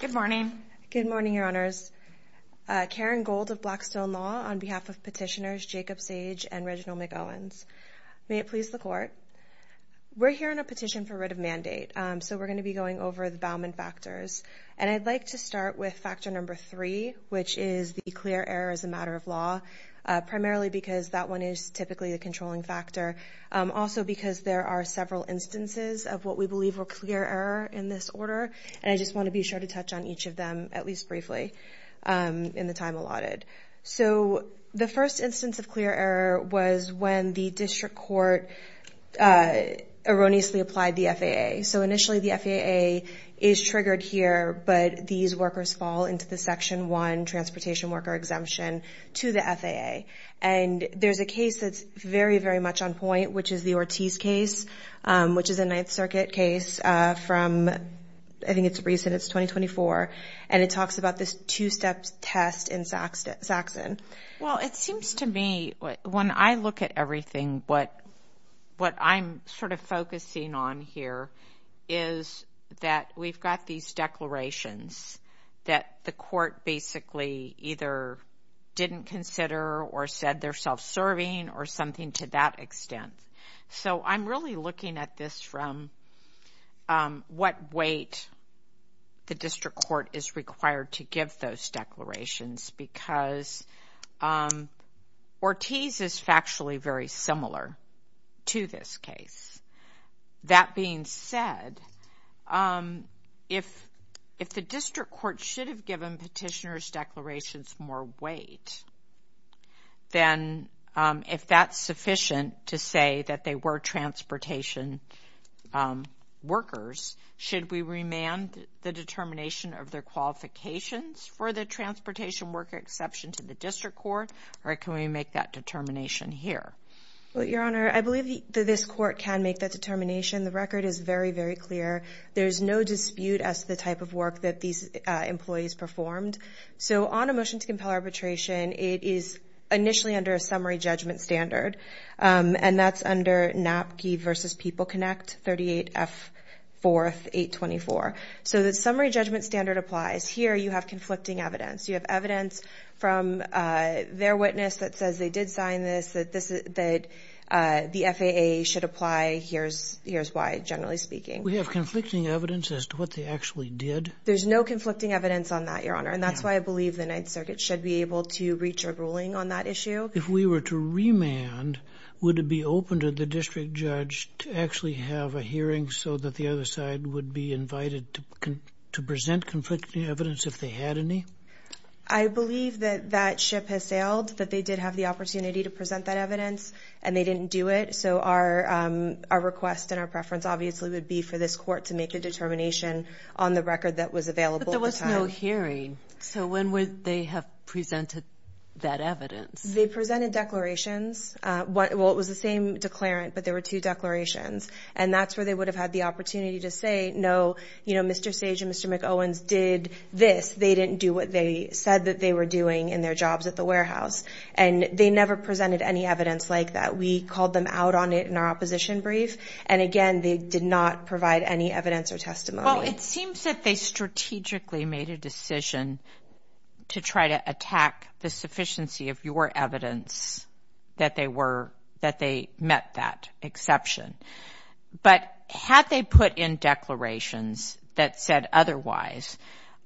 Good morning. Good morning, Your Honors. Karen Gold of Blackstone Law on behalf of petitioners Jacob Sage and Reginald McOwens. May it please the Court. We're hearing a petition for writ of mandate. So we're going to be going over the Bauman factors. And I'd like to start with factor number three, which is the clear error as a matter of law. Primarily because that one is typically the controlling factor. Also because there are several instances of what we believe were clear error in this order. And I just want to be sure to touch on each of them at least briefly in the time allotted. So the first instance of clear error was when the district court erroneously applied the FAA. So initially the FAA is triggered here, but these workers fall into the section one transportation worker exemption to the FAA. And there's a case that's very, very much on point, which is the Ortiz case, which is a Ninth Circuit case from, I think it's recent, it's 2024. And it talks about this two-step test in Saxon. Well, it seems to me when I look at everything, what I'm sort of focusing on here is that we've got these declarations that the court basically either didn't consider or said they're self-serving or something to that extent. So I'm really looking at this from what weight the district court is required to give those declarations because Ortiz is factually very similar to this case. That being said, if the district court should have given petitioner's declarations more weight, then if that's sufficient to say that they were transportation workers, should we remand the determination of their qualifications for the transportation worker exception to the district court? Or can we make that determination here? Well, Your Honor, I believe that this court can make that determination. The record is very, very clear. There's no dispute as to the type of work that these employees performed. So on a motion to compel arbitration, it is initially under a summary judgment standard. And that's under NAPGE versus People Connect, 38F 4th 824. So the summary judgment standard applies. Here you have conflicting evidence. You have evidence from their witness that says they did sign this, that the FAA should apply. Here's why, generally speaking. We have conflicting evidence as to what they actually did. There's no conflicting evidence on that, Your Honor. And that's why I believe the Ninth Circuit should be able to reach a ruling on that issue. If we were to remand, would it be open to the district judge to actually have a hearing so that the other side would be invited to present conflicting evidence if they had any? I believe that that ship has sailed, that they did have the opportunity to present that evidence, and they didn't do it. So our request and our preference obviously would be for this court to make a determination on the record that was available at the time. But there was no hearing. So when would they have presented that evidence? They presented declarations. Well, it was the same declarant, but there were two declarations. And that's where they would have had the opportunity to say, no, Mr. Sage and Mr. McOwens did this. They didn't do what they said that they were doing in their jobs at the warehouse. And they never presented any evidence like that. We called them out on it in our opposition brief. And again, they did not provide any evidence or testimony. It seems that they strategically made a decision to try to attack the sufficiency of your evidence that they met that exception. But had they put in declarations that said otherwise,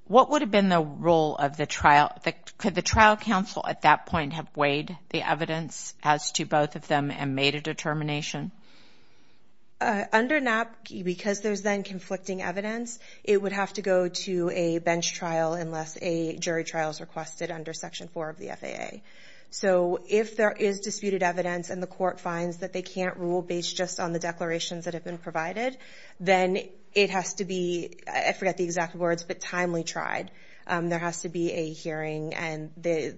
what would have been the role of the trial? Could the trial counsel at that point have weighed the evidence as to both of them and made a determination? Under NAPQA, because there's then conflicting evidence, it would have to go to a bench trial unless a jury trial is requested under Section 4 of the FAA. So if there is disputed evidence and the court finds that they can't rule based just on the declarations that have been provided, then it has to be, I forget the exact words, but timely tried. There has to be a hearing and the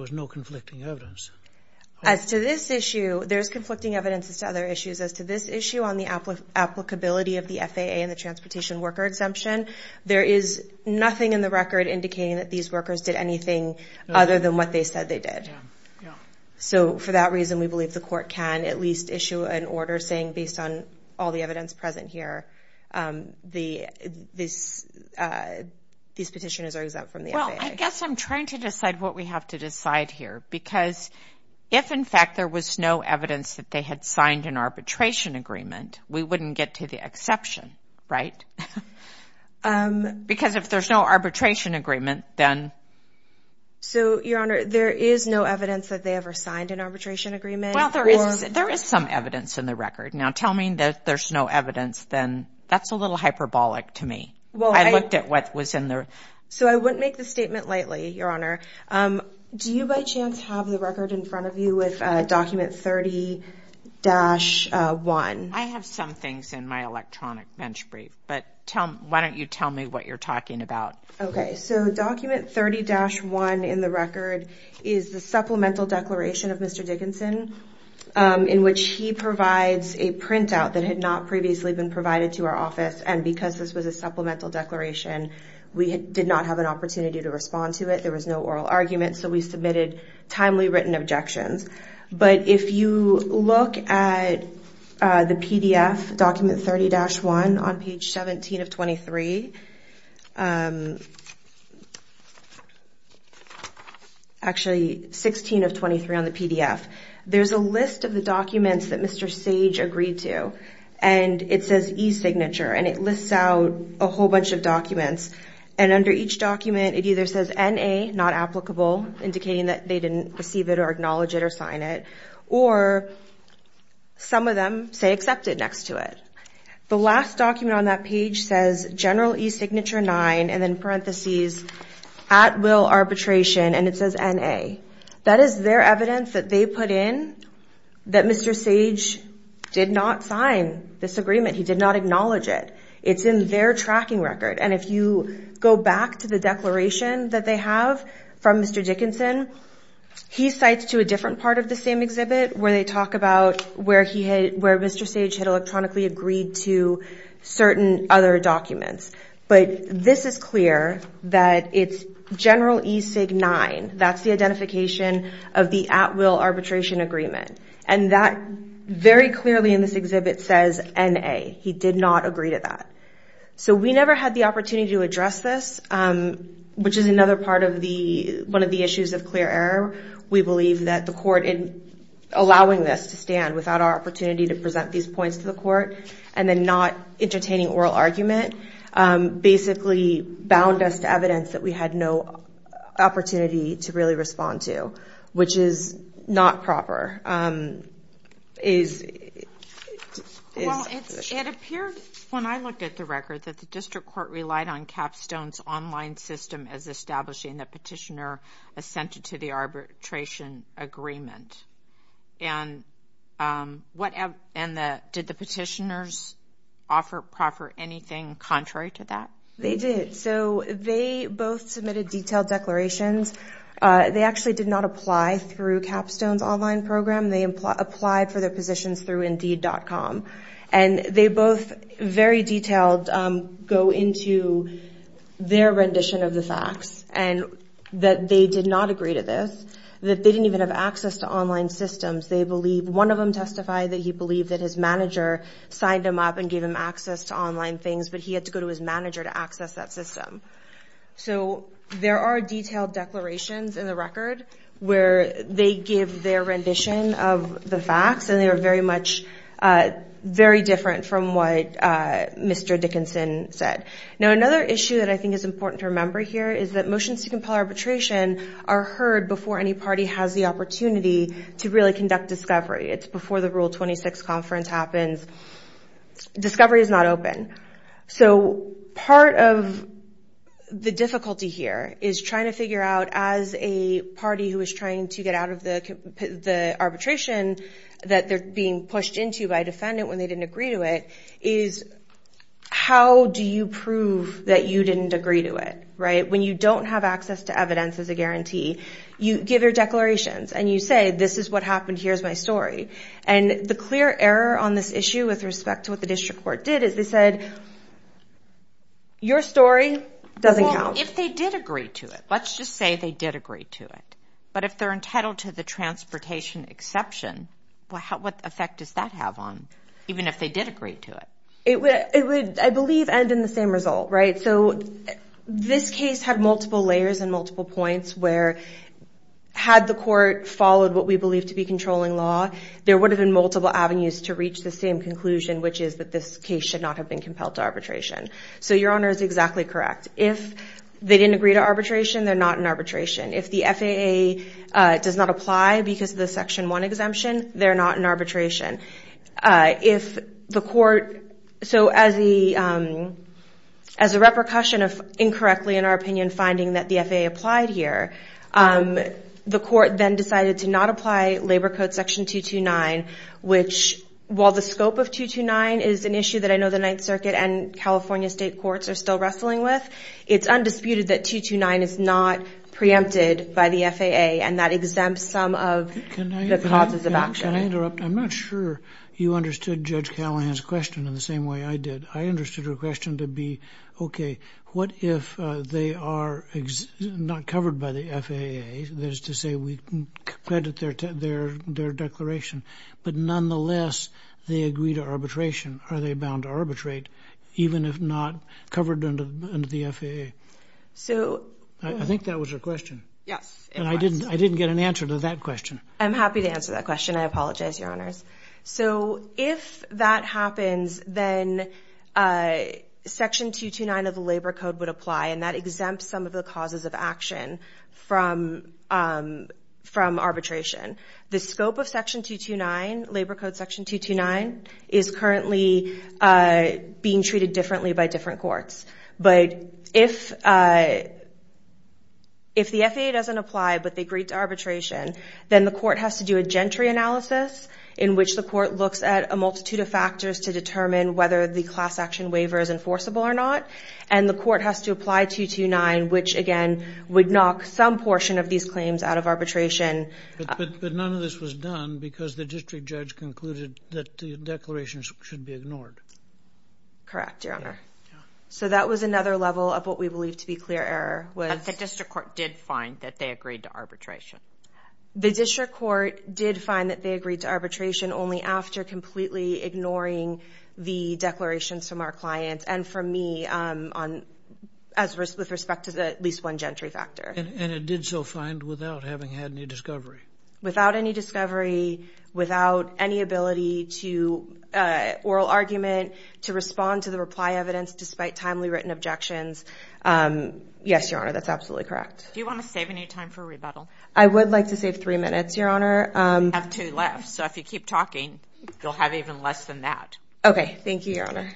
was no conflicting evidence. As to this issue, there's conflicting evidence as to other issues. As to this issue on the applicability of the FAA and the transportation worker exemption, there is nothing in the record indicating that these workers did anything other than what they said they did. So for that reason, we believe the court can at least issue an order saying, based on all the evidence present here, these petitioners are exempt from the FAA. I guess I'm trying to decide what we have to decide here, because if in fact there was no evidence that they had signed an arbitration agreement, we wouldn't get to the exception, right? Because if there's no arbitration agreement, then? So, Your Honor, there is no evidence that they ever signed an arbitration agreement. There is some evidence in the record. Now tell me that there's no evidence, then that's a little hyperbolic to me. I looked at what was in there. So I wouldn't make the statement lightly, Your Honor. Do you by chance have the record in front of you with document 30-1? I have some things in my electronic bench brief, but why don't you tell me what you're talking about? Okay. So document 30-1 in the record is the supplemental declaration of Mr. Dickinson, in which he provides a printout that had not previously been provided to our office. And because this was a supplemental declaration, we did not have an opportunity to respond to it. There was no oral argument. So we submitted timely written objections. But if you look at the PDF document 30-1 on page 17 of 23, actually 16 of 23 on the PDF, there's a list of the documents that Mr. Sage agreed to. And it says e-signature, and it lists out a whole bunch of documents. And under each document, it either says NA, not applicable, indicating that they didn't receive it or acknowledge it or sign it. Or some of them say accepted next to it. The last document on that page says General e-signature 9 and then parentheses at will arbitration, and it says NA. That is their evidence that they put in that Mr. Sage did not sign this agreement. He did not acknowledge it. It's in their tracking record. And if you go back to the declaration that they have from Mr. Dickinson, he cites to a different part of the same exhibit where they talk about where Mr. Sage had electronically agreed to certain other documents. But this is clear that it's General e-signature 9. That's the identification of the at will arbitration agreement. And that very clearly in this exhibit says NA. He did not agree to that. So we never had the opportunity to address this, which is another part of one of the issues of clear error. We believe that the court, in allowing this to stand without our opportunity to present these points to the court, and then not entertaining oral argument, basically bound us to evidence that we had no opportunity to really respond to, which is not proper. Well, it appeared when I looked at the record that the district court relied on Capstone's online system as establishing the petitioner assented to the arbitration agreement. And did the petitioners offer anything contrary to that? They did. So they both submitted detailed declarations. They actually did not apply through Capstone's online program. They applied for their positions through Indeed.com. And they both, very detailed, go into their rendition of the facts, and that they did not agree to this, that they didn't even have access to online systems. One of them testified that he believed that his manager signed him up and gave him access to online things, but he had to go to his manager to access that system. So there are detailed declarations in the record where they give their rendition of the facts, and they are very different from what Mr. Dickinson said. Now, another issue that I think is important to remember here is that motions to compel arbitration are heard before any party has the opportunity to really conduct discovery. It's before the Rule 26 conference happens. Discovery is not open. So part of the difficulty here is trying to figure out, as a party who is trying to get out of the arbitration that they're being pushed into by a defendant when they didn't agree to it, is how do you prove that you didn't agree to it, right? When you don't have access to evidence as a guarantee, you give your declarations and you say, this is what happened, here's my story. And the clear error on this issue with respect to what the district court did is they said, your story doesn't count. If they did agree to it, let's just say they did agree to it. But if they're entitled to the transportation exception, what effect does that have on even if they did agree to it? It would, I believe, end in the same result, right? So this case had multiple layers and multiple points where, had the court followed what we believe to be controlling law, there would have been multiple avenues to reach the same conclusion, which is that this case should not have been compelled to arbitration. So your honor is exactly correct. If they didn't agree to arbitration, they're not in arbitration. If the FAA does not apply because of the Section 1 exemption, they're not in arbitration. If the court, so as a repercussion of incorrectly, in our opinion, finding that the FAA applied here, the court then decided to not apply Labor Code Section 229, which while the scope of 229 is an issue that I know the Ninth Circuit and California state courts are still wrestling with, it's undisputed that 229 is not preempted by the FAA and that exempts some of the causes of action. Can I interrupt? I'm not sure you understood Judge Callahan's question in the same way I did. I understood her question to be okay, what if they are not covered by the FAA? That is to say we can credit their declaration, but nonetheless they agree to arbitration. Are they bound to arbitrate even if not covered under the FAA? So I think that was her question. Yes. And I didn't get an answer to that question. I'm happy to answer that question. I apologize, your honors. So if that happens, then Section 229 of the Labor Code would apply and that exempts some of the causes of action from arbitration. The scope of Section 229, Labor Code Section 229, is currently being treated differently by different courts. But if the FAA doesn't apply but they agree to arbitration, then the court has to do a gentry analysis in which the court looks at a multitude of factors to determine whether the class action waiver is enforceable or not. And the court has to apply 229 which again would knock some portion of these claims out of arbitration. But none of this was done because the district judge concluded that the declarations should be ignored. Correct, your honor. So that was another level of what we believe to be clear error. But the district court did find that they agreed to arbitration. The district court did find that they agreed to arbitration only after completely ignoring the declarations from our clients and from me with respect to at least one gentry factor. And it did so find without having had any discovery? Without any discovery, without any ability to oral argument, to respond to the reply evidence despite timely written objections. Yes, your honor, that's absolutely correct. Do you want to save any time for rebuttal? I would like to save three minutes, your honor. We have two left, so if you keep talking, you'll have even less than that. Okay, thank you, your honor.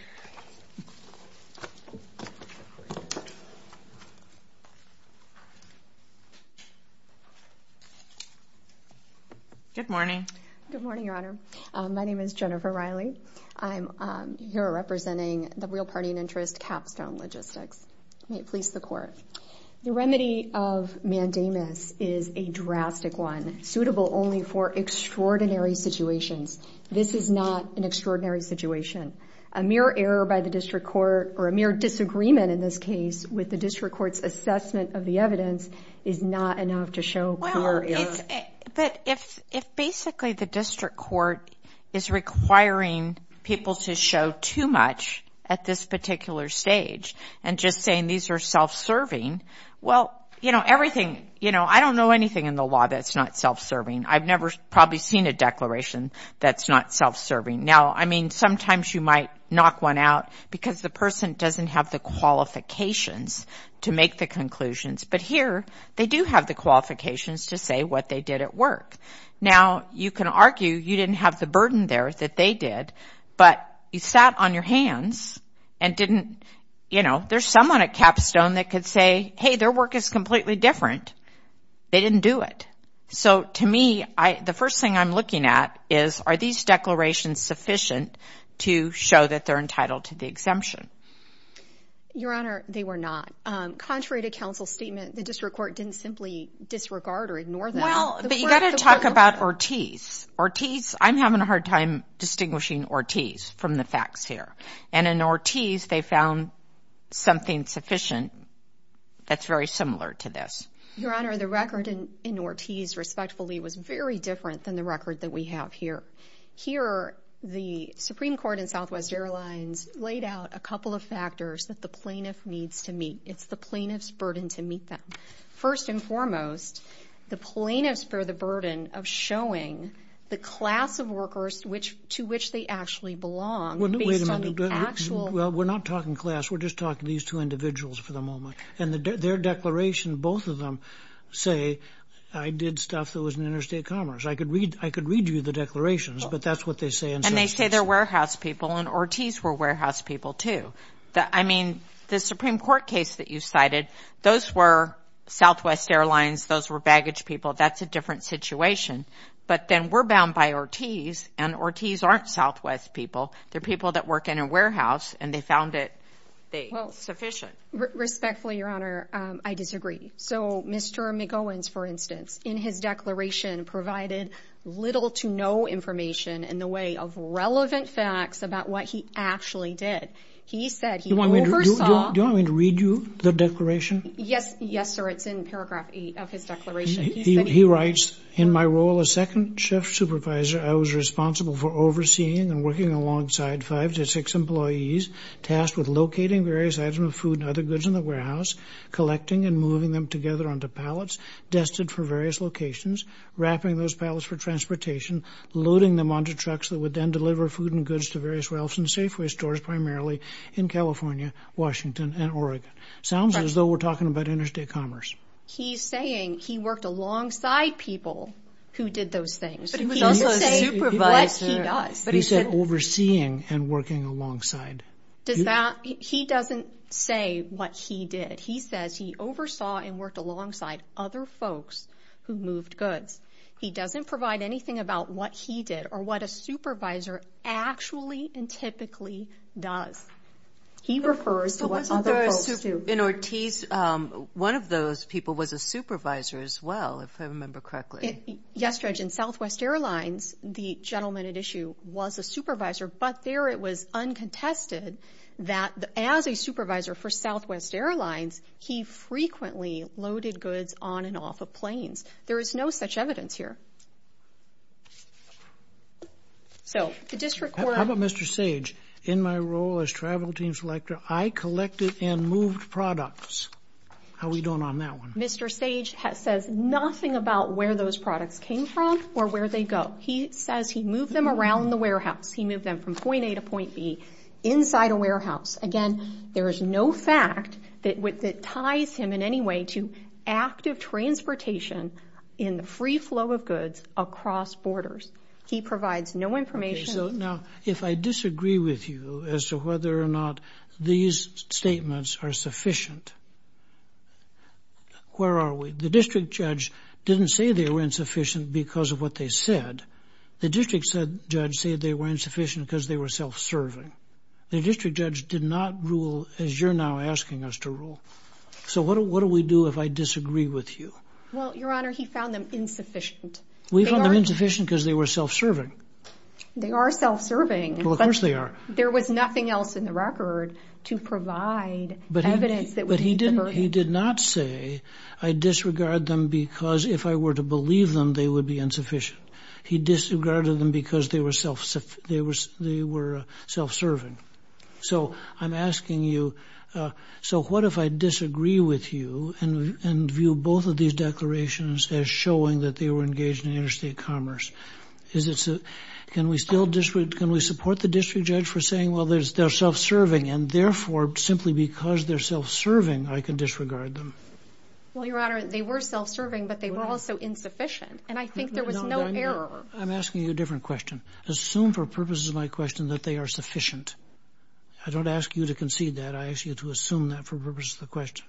Good morning. Good morning, your honor. My name is Jennifer Riley. I'm here representing the Real Party and Interest Capstone Logistics. May it please the court. The remedy of mandamus is a drastic one suitable only for extraordinary situations. This is not an extraordinary situation. A mere error by the district court or a mere disagreement in this case with the district court's assessment of the evidence is not enough to show clear error. But if basically the district court is requiring people to show too much at this particular stage and just saying these are self-serving, well, you know, everything, you know, I don't know anything in the law that's not self-serving. I've never probably seen a declaration that's not self-serving. Now, I mean, sometimes you might knock one out because the person doesn't have the qualifications to make the conclusions, but here they do have the qualifications to say what they did at work. Now, you can argue you didn't have the burden there that they did, but you sat on your hands and didn't, you know, there's someone at Capstone that could say, hey, their work is completely different. They didn't do it. So to me, the first thing I'm looking at is are these declarations sufficient to show that they're entitled to the exemption? Your Honor, they were not. Contrary to counsel's statement, the district court didn't simply disregard or ignore that. Well, but you got to talk about Ortiz. Ortiz, I'm having a hard time distinguishing Ortiz from the facts here. And in Ortiz, they found something sufficient that's very similar to this. Your Honor, the record in Ortiz, respectfully, was very different than the record that we have here. Here, the Supreme Court in Southwest Airlines laid out a couple of factors that the plaintiff needs to meet. It's the plaintiff's burden to meet them. First and foremost, the plaintiffs bear the burden of showing the class of workers to which they actually belong. Well, we're not talking class. We're just talking these two individuals for the moment. And their declaration, both of them say, I did stuff that was in interstate commerce. I could read you the declarations, but that's what they say. And they say they're warehouse people, and Ortiz were warehouse people too. I mean, the Supreme Court case that you cited, those were Southwest Airlines. Those were baggage people. That's a different situation. But then we're bound by Ortiz, and Ortiz aren't Southwest people. They're people that work in a warehouse, and they found it sufficient. Respectfully, Your Honor, I disagree. So Mr. McGowans, for instance, in his declaration provided little to no information in the way of relevant facts about what he actually did. He said he oversaw- Do you want me to read you the declaration? Yes, sir. It's in paragraph eight of his declaration. He writes, in my role as second chef supervisor, I was responsible for overseeing and working alongside five to six employees tasked with locating various items of food and other goods in the warehouse, collecting and moving them together onto pallets, dusted for various locations, wrapping those pallets for transportation, loading them onto trucks that would then deliver food and goods to various ralphs and Safeway stores, primarily in California, Washington, and Oregon. Sounds as though we're talking about interstate commerce. He's saying he worked alongside people who did those things. But he was also a supervisor. He said overseeing and working alongside. He doesn't say what he did. He says he oversaw and worked alongside other folks who moved goods. He doesn't provide anything about what he did or what a supervisor actually and typically does. He refers to what other folks do. In Ortiz, one of those people was a supervisor as well, if I remember correctly. Yes, Judge. In Southwest Airlines, the gentleman at issue was a supervisor, but there it was uncontested that as a supervisor for Southwest Airlines, he frequently loaded goods on and off of planes. There is no such evidence here. How about Mr. Sage? In my role as travel team selector, I collected and moved products. How are we doing on that one? Mr. Sage says nothing about where those products came from or where they go. He says he moved them around the warehouse. He moved them from point A to point B inside a warehouse. Again, there is no fact that ties him in any way to active transportation in the free flow of goods across borders. He provides no information. Now, if I disagree with you as to whether or not these statements are sufficient, where are we? The district judge didn't say they were insufficient because of what they said. The district judge said they were insufficient because they were self-serving. The district judge did not rule as you're now asking us to rule. So what do we do if I disagree with you? Well, Your Honor, he found them insufficient. We found them insufficient because they were self-serving. They are self-serving. Well, of course they are. There was nothing else in the record to provide evidence that would be subverting. He did not say I disregard them because if I were to believe them, they would be insufficient. He disregarded them because they were self-serving. So I'm asking you, so what if I disagree with you and view both of these declarations as showing that they were engaged in interstate commerce? Can we support the district judge for saying, well, they're self-serving and therefore, simply because they're self-serving, I can disregard them? Well, Your Honor, they were self-serving, but they were also insufficient. And I think there was no error. I'm asking you a different question. Assume for purposes of my question that they are insufficient. I don't ask you to concede that. I ask you to assume that for purpose of the question.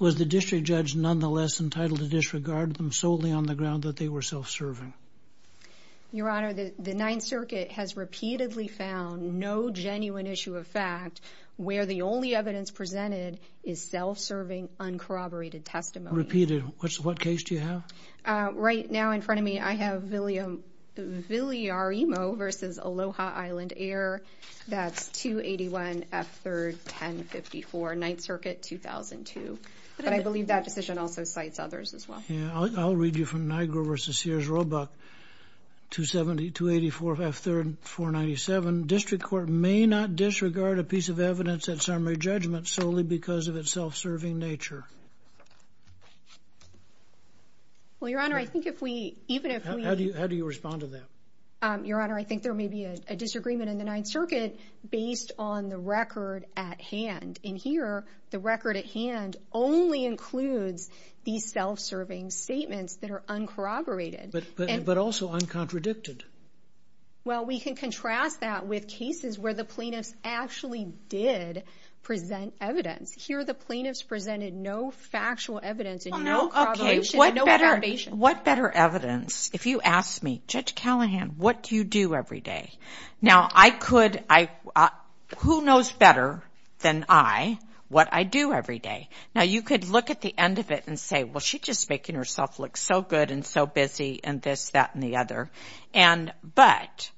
Was the district judge nonetheless entitled to disregard them solely on the ground that they were self-serving? Your Honor, the Ninth Circuit has repeatedly found no genuine issue of fact where the only evidence presented is self-serving, uncorroborated testimony. Repeated. What case do you have? Right now in front of me, I have Villarimo v. Aloha Island Air. That's 281 F. 3rd, 1054. Ninth Circuit, 2002. But I believe that decision also cites others as well. Yeah. I'll read you from Nigro v. Sears-Roebuck, 270, 284 F. 3rd, 497. District court may not disregard a piece of evidence at summary judgment solely because of its self-serving nature. Well, Your Honor, I think if we, even if we... How do you respond to that? Your Honor, I think there may be a disagreement in the Ninth Circuit based on the record at hand. And here, the record at hand only includes these self-serving statements that are uncorroborated. But also uncontradicted. Well, we can contrast that with cases where the plaintiffs actually did present evidence. Here, the plaintiffs presented no factual evidence and no corroboration. What better evidence? If you ask me, Judge Callahan, what do you do every day? Now, who knows better than I what I do every day? Now, you could look at the end of it and say, well, she's just making herself look so good and so busy and this, that, and the other. But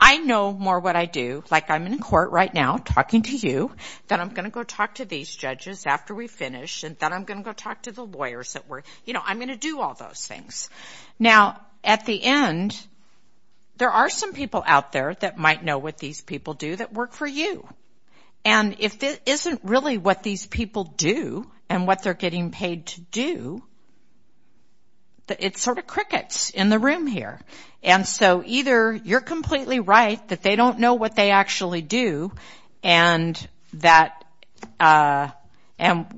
I know more what I do, like I'm in court right now talking to you, then I'm going to go talk to these judges after we finish, and then I'm going to go talk to the lawyers that were, you know, I'm going to do all those things. Now, at the end, there are some people out there that might know what these people do that work for you. And if it isn't really what these people do and what they're getting paid to do, it sort of crickets in the room here. And so either you're completely right that they don't know what they actually do and that, and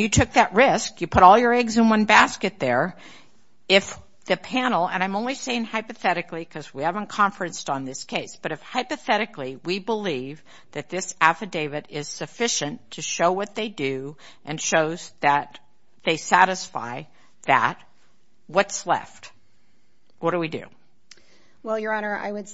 you took that risk, you put all your eggs in one basket there, if the panel, and I'm only saying hypothetically because we haven't conferenced on this case, but if hypothetically we believe that this affidavit is sufficient to show what they do and shows that they satisfy that, what's left? What do we do? Well, Your Honor, I would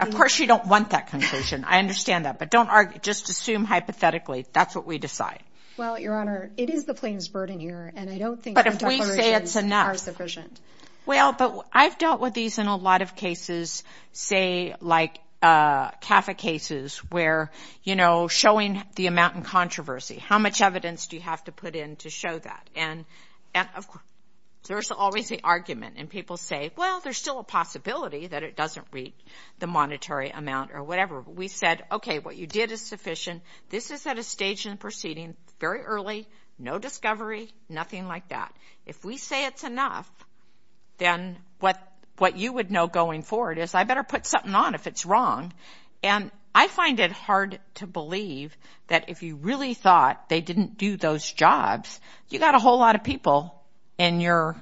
of course, you don't want that conclusion. I understand that, but don't argue, just assume hypothetically, that's what we decide. Well, Your Honor, it is the plaintiff's burden here, and I don't think declarations are sufficient. But if we say it's enough. Well, but I've dealt with these in a lot of cases, say, like CAFA cases where, you know, showing the amount in controversy, how much evidence do you have to put in to show that? And of course, there's always the argument, and people say, well, there's still a possibility that it doesn't read the monetary amount or whatever. We said, okay, what you did is sufficient. This is at a stage in the proceeding, very early, no discovery, nothing like that. If we say it's enough, then what you would know going forward is I better put something on if it's wrong. And I find it hard to believe that if you really thought they didn't do those jobs, you got a whole lot of people in your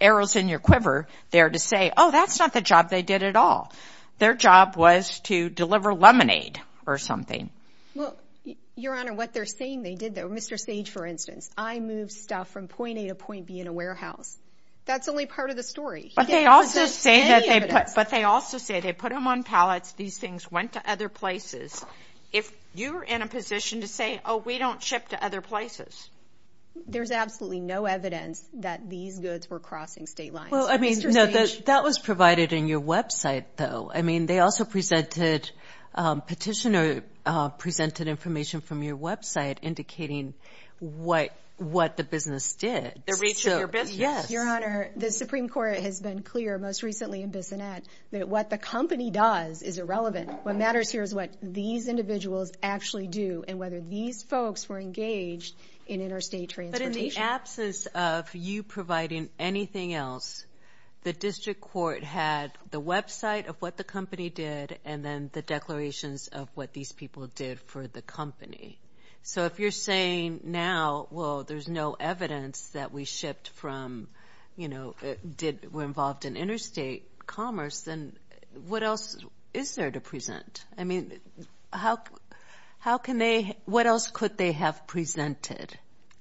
arrows in your quiver there to say, oh, that's not the job they did at all. Their job was to deliver lemonade or something. Well, Your Honor, what they're saying they did though, Mr. Sage, for instance, I moved stuff from point A to point B in a warehouse. That's only part of the story. But they also say that they put them on pallets, these things went to other places. If you're in a position to say, oh, we don't ship to other places. There's absolutely no evidence that these goods were crossing state lines. Well, I mean, that was provided in your website though. I mean, they also presented, petitioner presented information from your website indicating what the business did. The reach of your business? Yes. Your Honor, the Supreme Court has been clear, most recently in Bissonette, that what the company does is irrelevant. What matters here is what these individuals actually do and whether these folks were engaged in interstate transportation. But in the absence of you providing anything else, the district court had the website of what the company did and then the declarations of what these people did for the company. So if you're saying now, well, there's no evidence that we shipped from, you know, did, were involved in interstate commerce, then what else is there to present? I mean, how can they, what else could they have presented?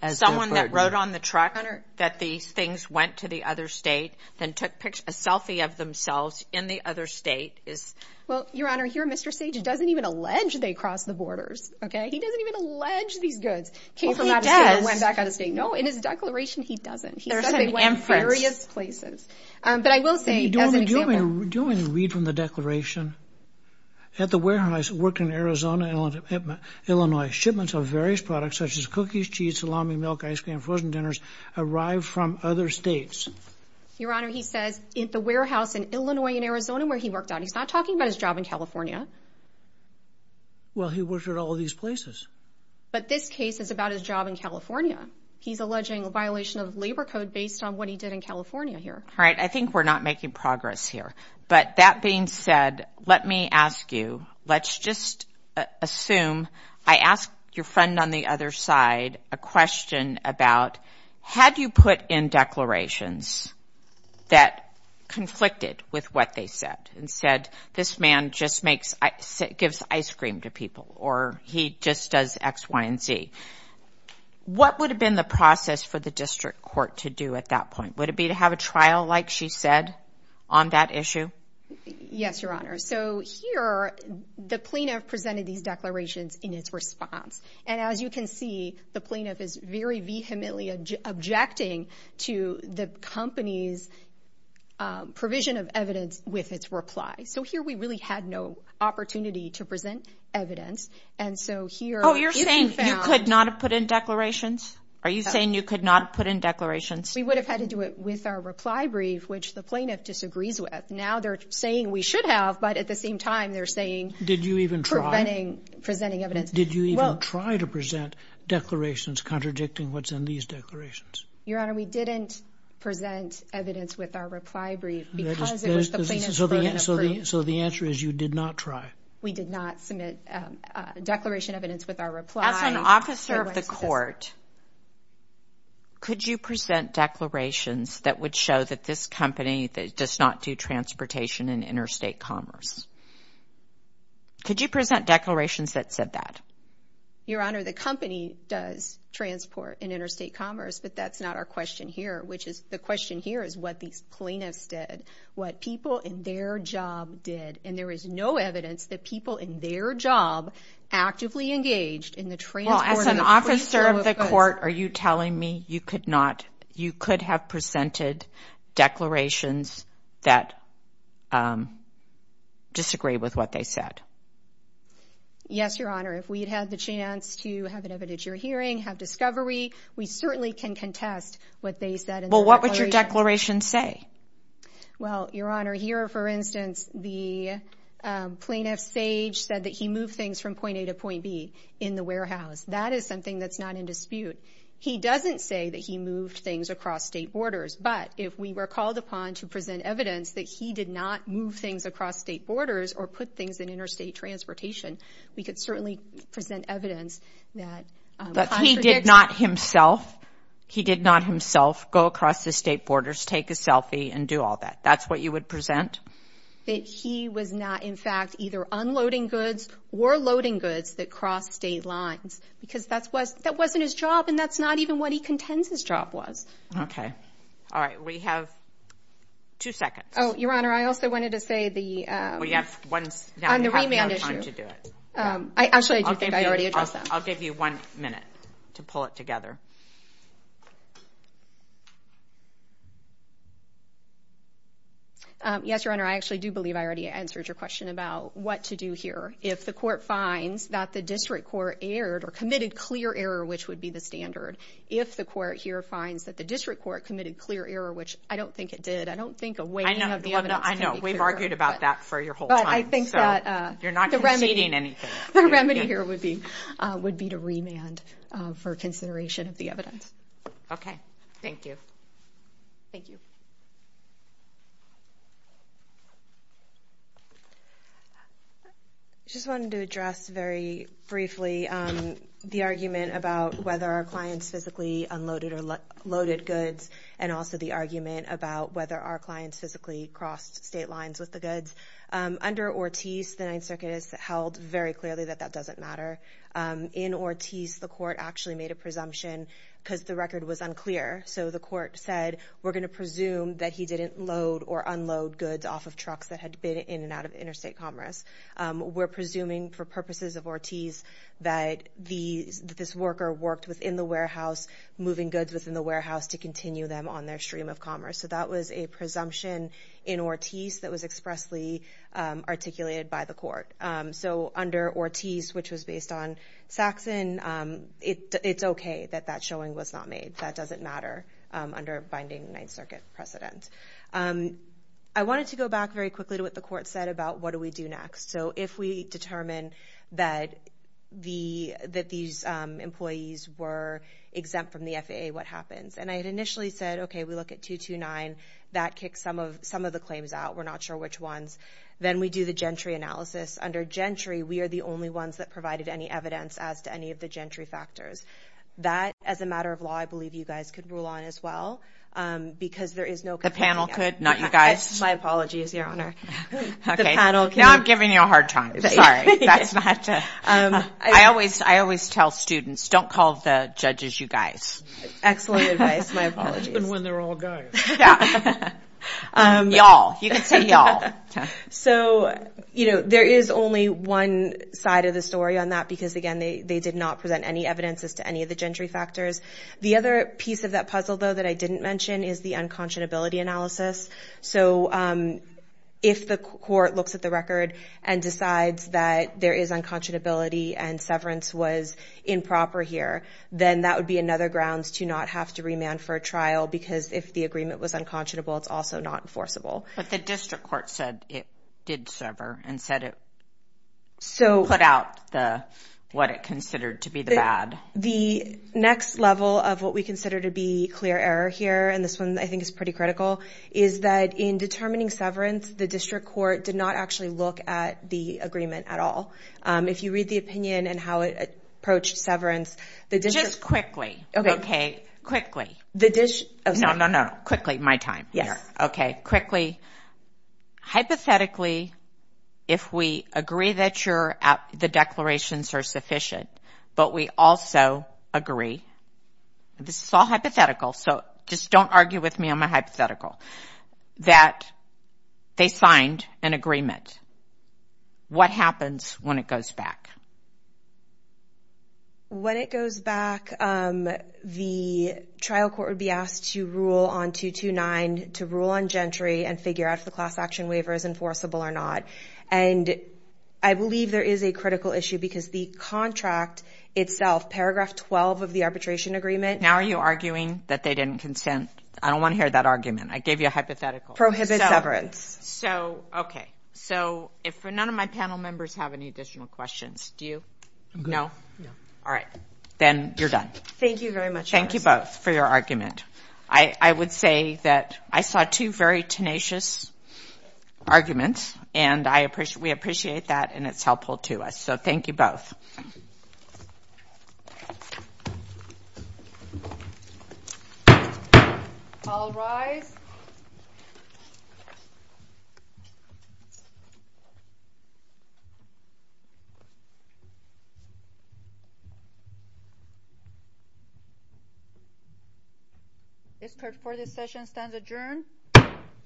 Someone that rode on the truck that these things went to the other state, then took a selfie of themselves in the other state is... Well, Your Honor, here, Mr. Sage doesn't even allege they crossed the borders, okay? He doesn't even allege these goods came from out of state and went back out of state. No, in his declaration, he doesn't. He said they went to various places. But I will say, as an example... Do you want me to read from the declaration? At the warehouse, worked in Arizona, Illinois, shipments of various products, such as cookies, cheese, salami, milk, ice cream, frozen dinners, arrived from other states. Your Honor, he says at the warehouse in Illinois and Arizona, where he worked out, he's not talking about his job in California. Well, he worked at all these places. But this case is about his job in California. He's alleging a violation of labor code based on what he did in California here. All right. I think we're not making progress here. But that being said, let me ask you, let's just assume... I asked your friend on the other side a question about, had you put in declarations that conflicted with what they said and said, this man just gives ice cream to people, or he just does X, Y, and Z? What would have been the process for the district court to do at that point? Would it be to have a trial, like she said, on that issue? Yes, Your Honor. So here, the plaintiff presented these declarations in its response. And as you can see, the plaintiff is very vehemently objecting to the company's provision of evidence with its reply. So here, we really had no opportunity to present evidence. And so here... You're saying you could not have put in declarations? Are you saying you could not put in declarations? We would have had to do it with our reply brief, which the plaintiff disagrees with. Now they're saying we should have, but at the same time, they're saying... Did you even try? ...presenting evidence. Did you even try to present declarations contradicting what's in these declarations? Your Honor, we didn't present evidence with our reply brief because it was the plaintiff's... So the answer is you did not try? We did not submit declaration evidence with our reply. As an officer of the court, could you present declarations that would show that this company does not do transportation in interstate commerce? Could you present declarations that said that? Your Honor, the company does transport in interstate commerce, but that's not our question here, which is... The question here is what these plaintiffs did, what people in their job did. And there is no evidence that people in their job actively engaged in the transport... Well, as an officer of the court, are you telling me you could not, you could have presented declarations that disagree with what they said? Yes, Your Honor. If we'd had the chance to have an evidentiary hearing, have discovery, we certainly can contest what they said in the declaration. Well, what would your declaration say? Well, Your Honor, here, for instance, the plaintiff, Sage, said that he moved things from point A to point B in the warehouse. That is something that's not in dispute. He doesn't say that he moved things across state borders, but if we were called upon to present evidence that he did not move things across state borders or put things in interstate transportation, we could certainly present evidence that... But he did not himself, he did not himself go across the state borders, take a selfie, and do all that. That's what you would present? That he was not, in fact, either unloading goods or loading goods that crossed state lines, because that wasn't his job, and that's not even what he contends his job was. Okay. All right. We have two seconds. Oh, Your Honor, I also wanted to say the... We have one... On the remand issue. We have no time to do it. Actually, I do think I already addressed that. I'll give you one minute to pull it together. Yes, Your Honor, I actually do believe I already answered your question about what to do here. If the court finds that the district court erred or committed clear error, which would be the standard, if the court here finds that the district court committed clear error, which I don't think it did, I don't think a weighting of the evidence can be clear. I know, I know. We've argued about that for your whole time, so you're not conceding anything. The remedy here would be to remand for consideration of the evidence. Okay. Thank you. Thank you. I just wanted to address very briefly the argument about whether our clients physically unloaded or loaded goods, and also the argument about whether our clients physically crossed state lines with the goods. Under Ortiz, the Ninth Circuit has held very clearly that that doesn't matter. In Ortiz, the court actually made a presumption because the record was unclear. So the court said, we're going to presume that he didn't load or unload goods off of trucks that had been in and out of interstate commerce. We're presuming for purposes of Ortiz that this worker worked within the warehouse, moving goods within the warehouse to continue them on their stream of commerce. So that was a presumption in Ortiz that was expressly articulated by the court. So under Ortiz, which was based on Saxon, it's okay that that showing was not made. That doesn't matter under binding Ninth Circuit precedent. I wanted to go back very quickly to what the court said about what do we do next. So if we determine that these employees were exempt from the FAA, what happens? And I had initially said, okay, we look at 229. That kicks some of the claims out. We're not sure which ones. Then we do the gentry analysis. Under gentry, we are the only ones that provided any evidence as to any of the gentry factors. That, as a matter of law, I believe you guys could rule on as well. Because there is no... The panel could, not you guys. My apologies, Your Honor. Now I'm giving you a hard time. I always tell students, don't call the judges you guys. Excellent advice. My apologies. And when they're all gone. Y'all. You can say y'all. So, you know, there is only one side of the story on that. Again, they did not present any evidence as to any of the gentry factors. The other piece of that puzzle, though, that I didn't mention is the unconscionability analysis. So if the court looks at the record and decides that there is unconscionability and severance was improper here, then that would be another ground to not have to remand for a trial. Because if the agreement was unconscionable, it's also not enforceable. But the district court said it did sever and said it put out what it considered to be the bad. The next level of what we consider to be clear error here, and this one I think is pretty critical, is that in determining severance, the district court did not actually look at the agreement at all. If you read the opinion and how it approached severance, the district... Just quickly. Okay. Quickly. No, no, no. Quickly. My time. Yes. Okay, quickly. Hypothetically, if we agree that the declarations are sufficient, but we also agree, this is all hypothetical, so just don't argue with me on my hypothetical, that they signed an agreement, what happens when it goes back? When it goes back, the trial court would be asked to rule on 229, to rule on Gentry, and figure out if the class action waiver is enforceable or not. And I believe there is a critical issue because the contract itself, paragraph 12 of the arbitration agreement... Now are you arguing that they didn't consent? I don't want to hear that argument. I gave you a hypothetical. Prohibit severance. So, okay. If none of my panel members have any additional questions, do you? No? No. All right. Then you're done. Thank you very much. Thank you both for your argument. I would say that I saw two very tenacious arguments, and we appreciate that, and it's helpful to us. So, thank you both. All rise. This court for this session stands adjourned.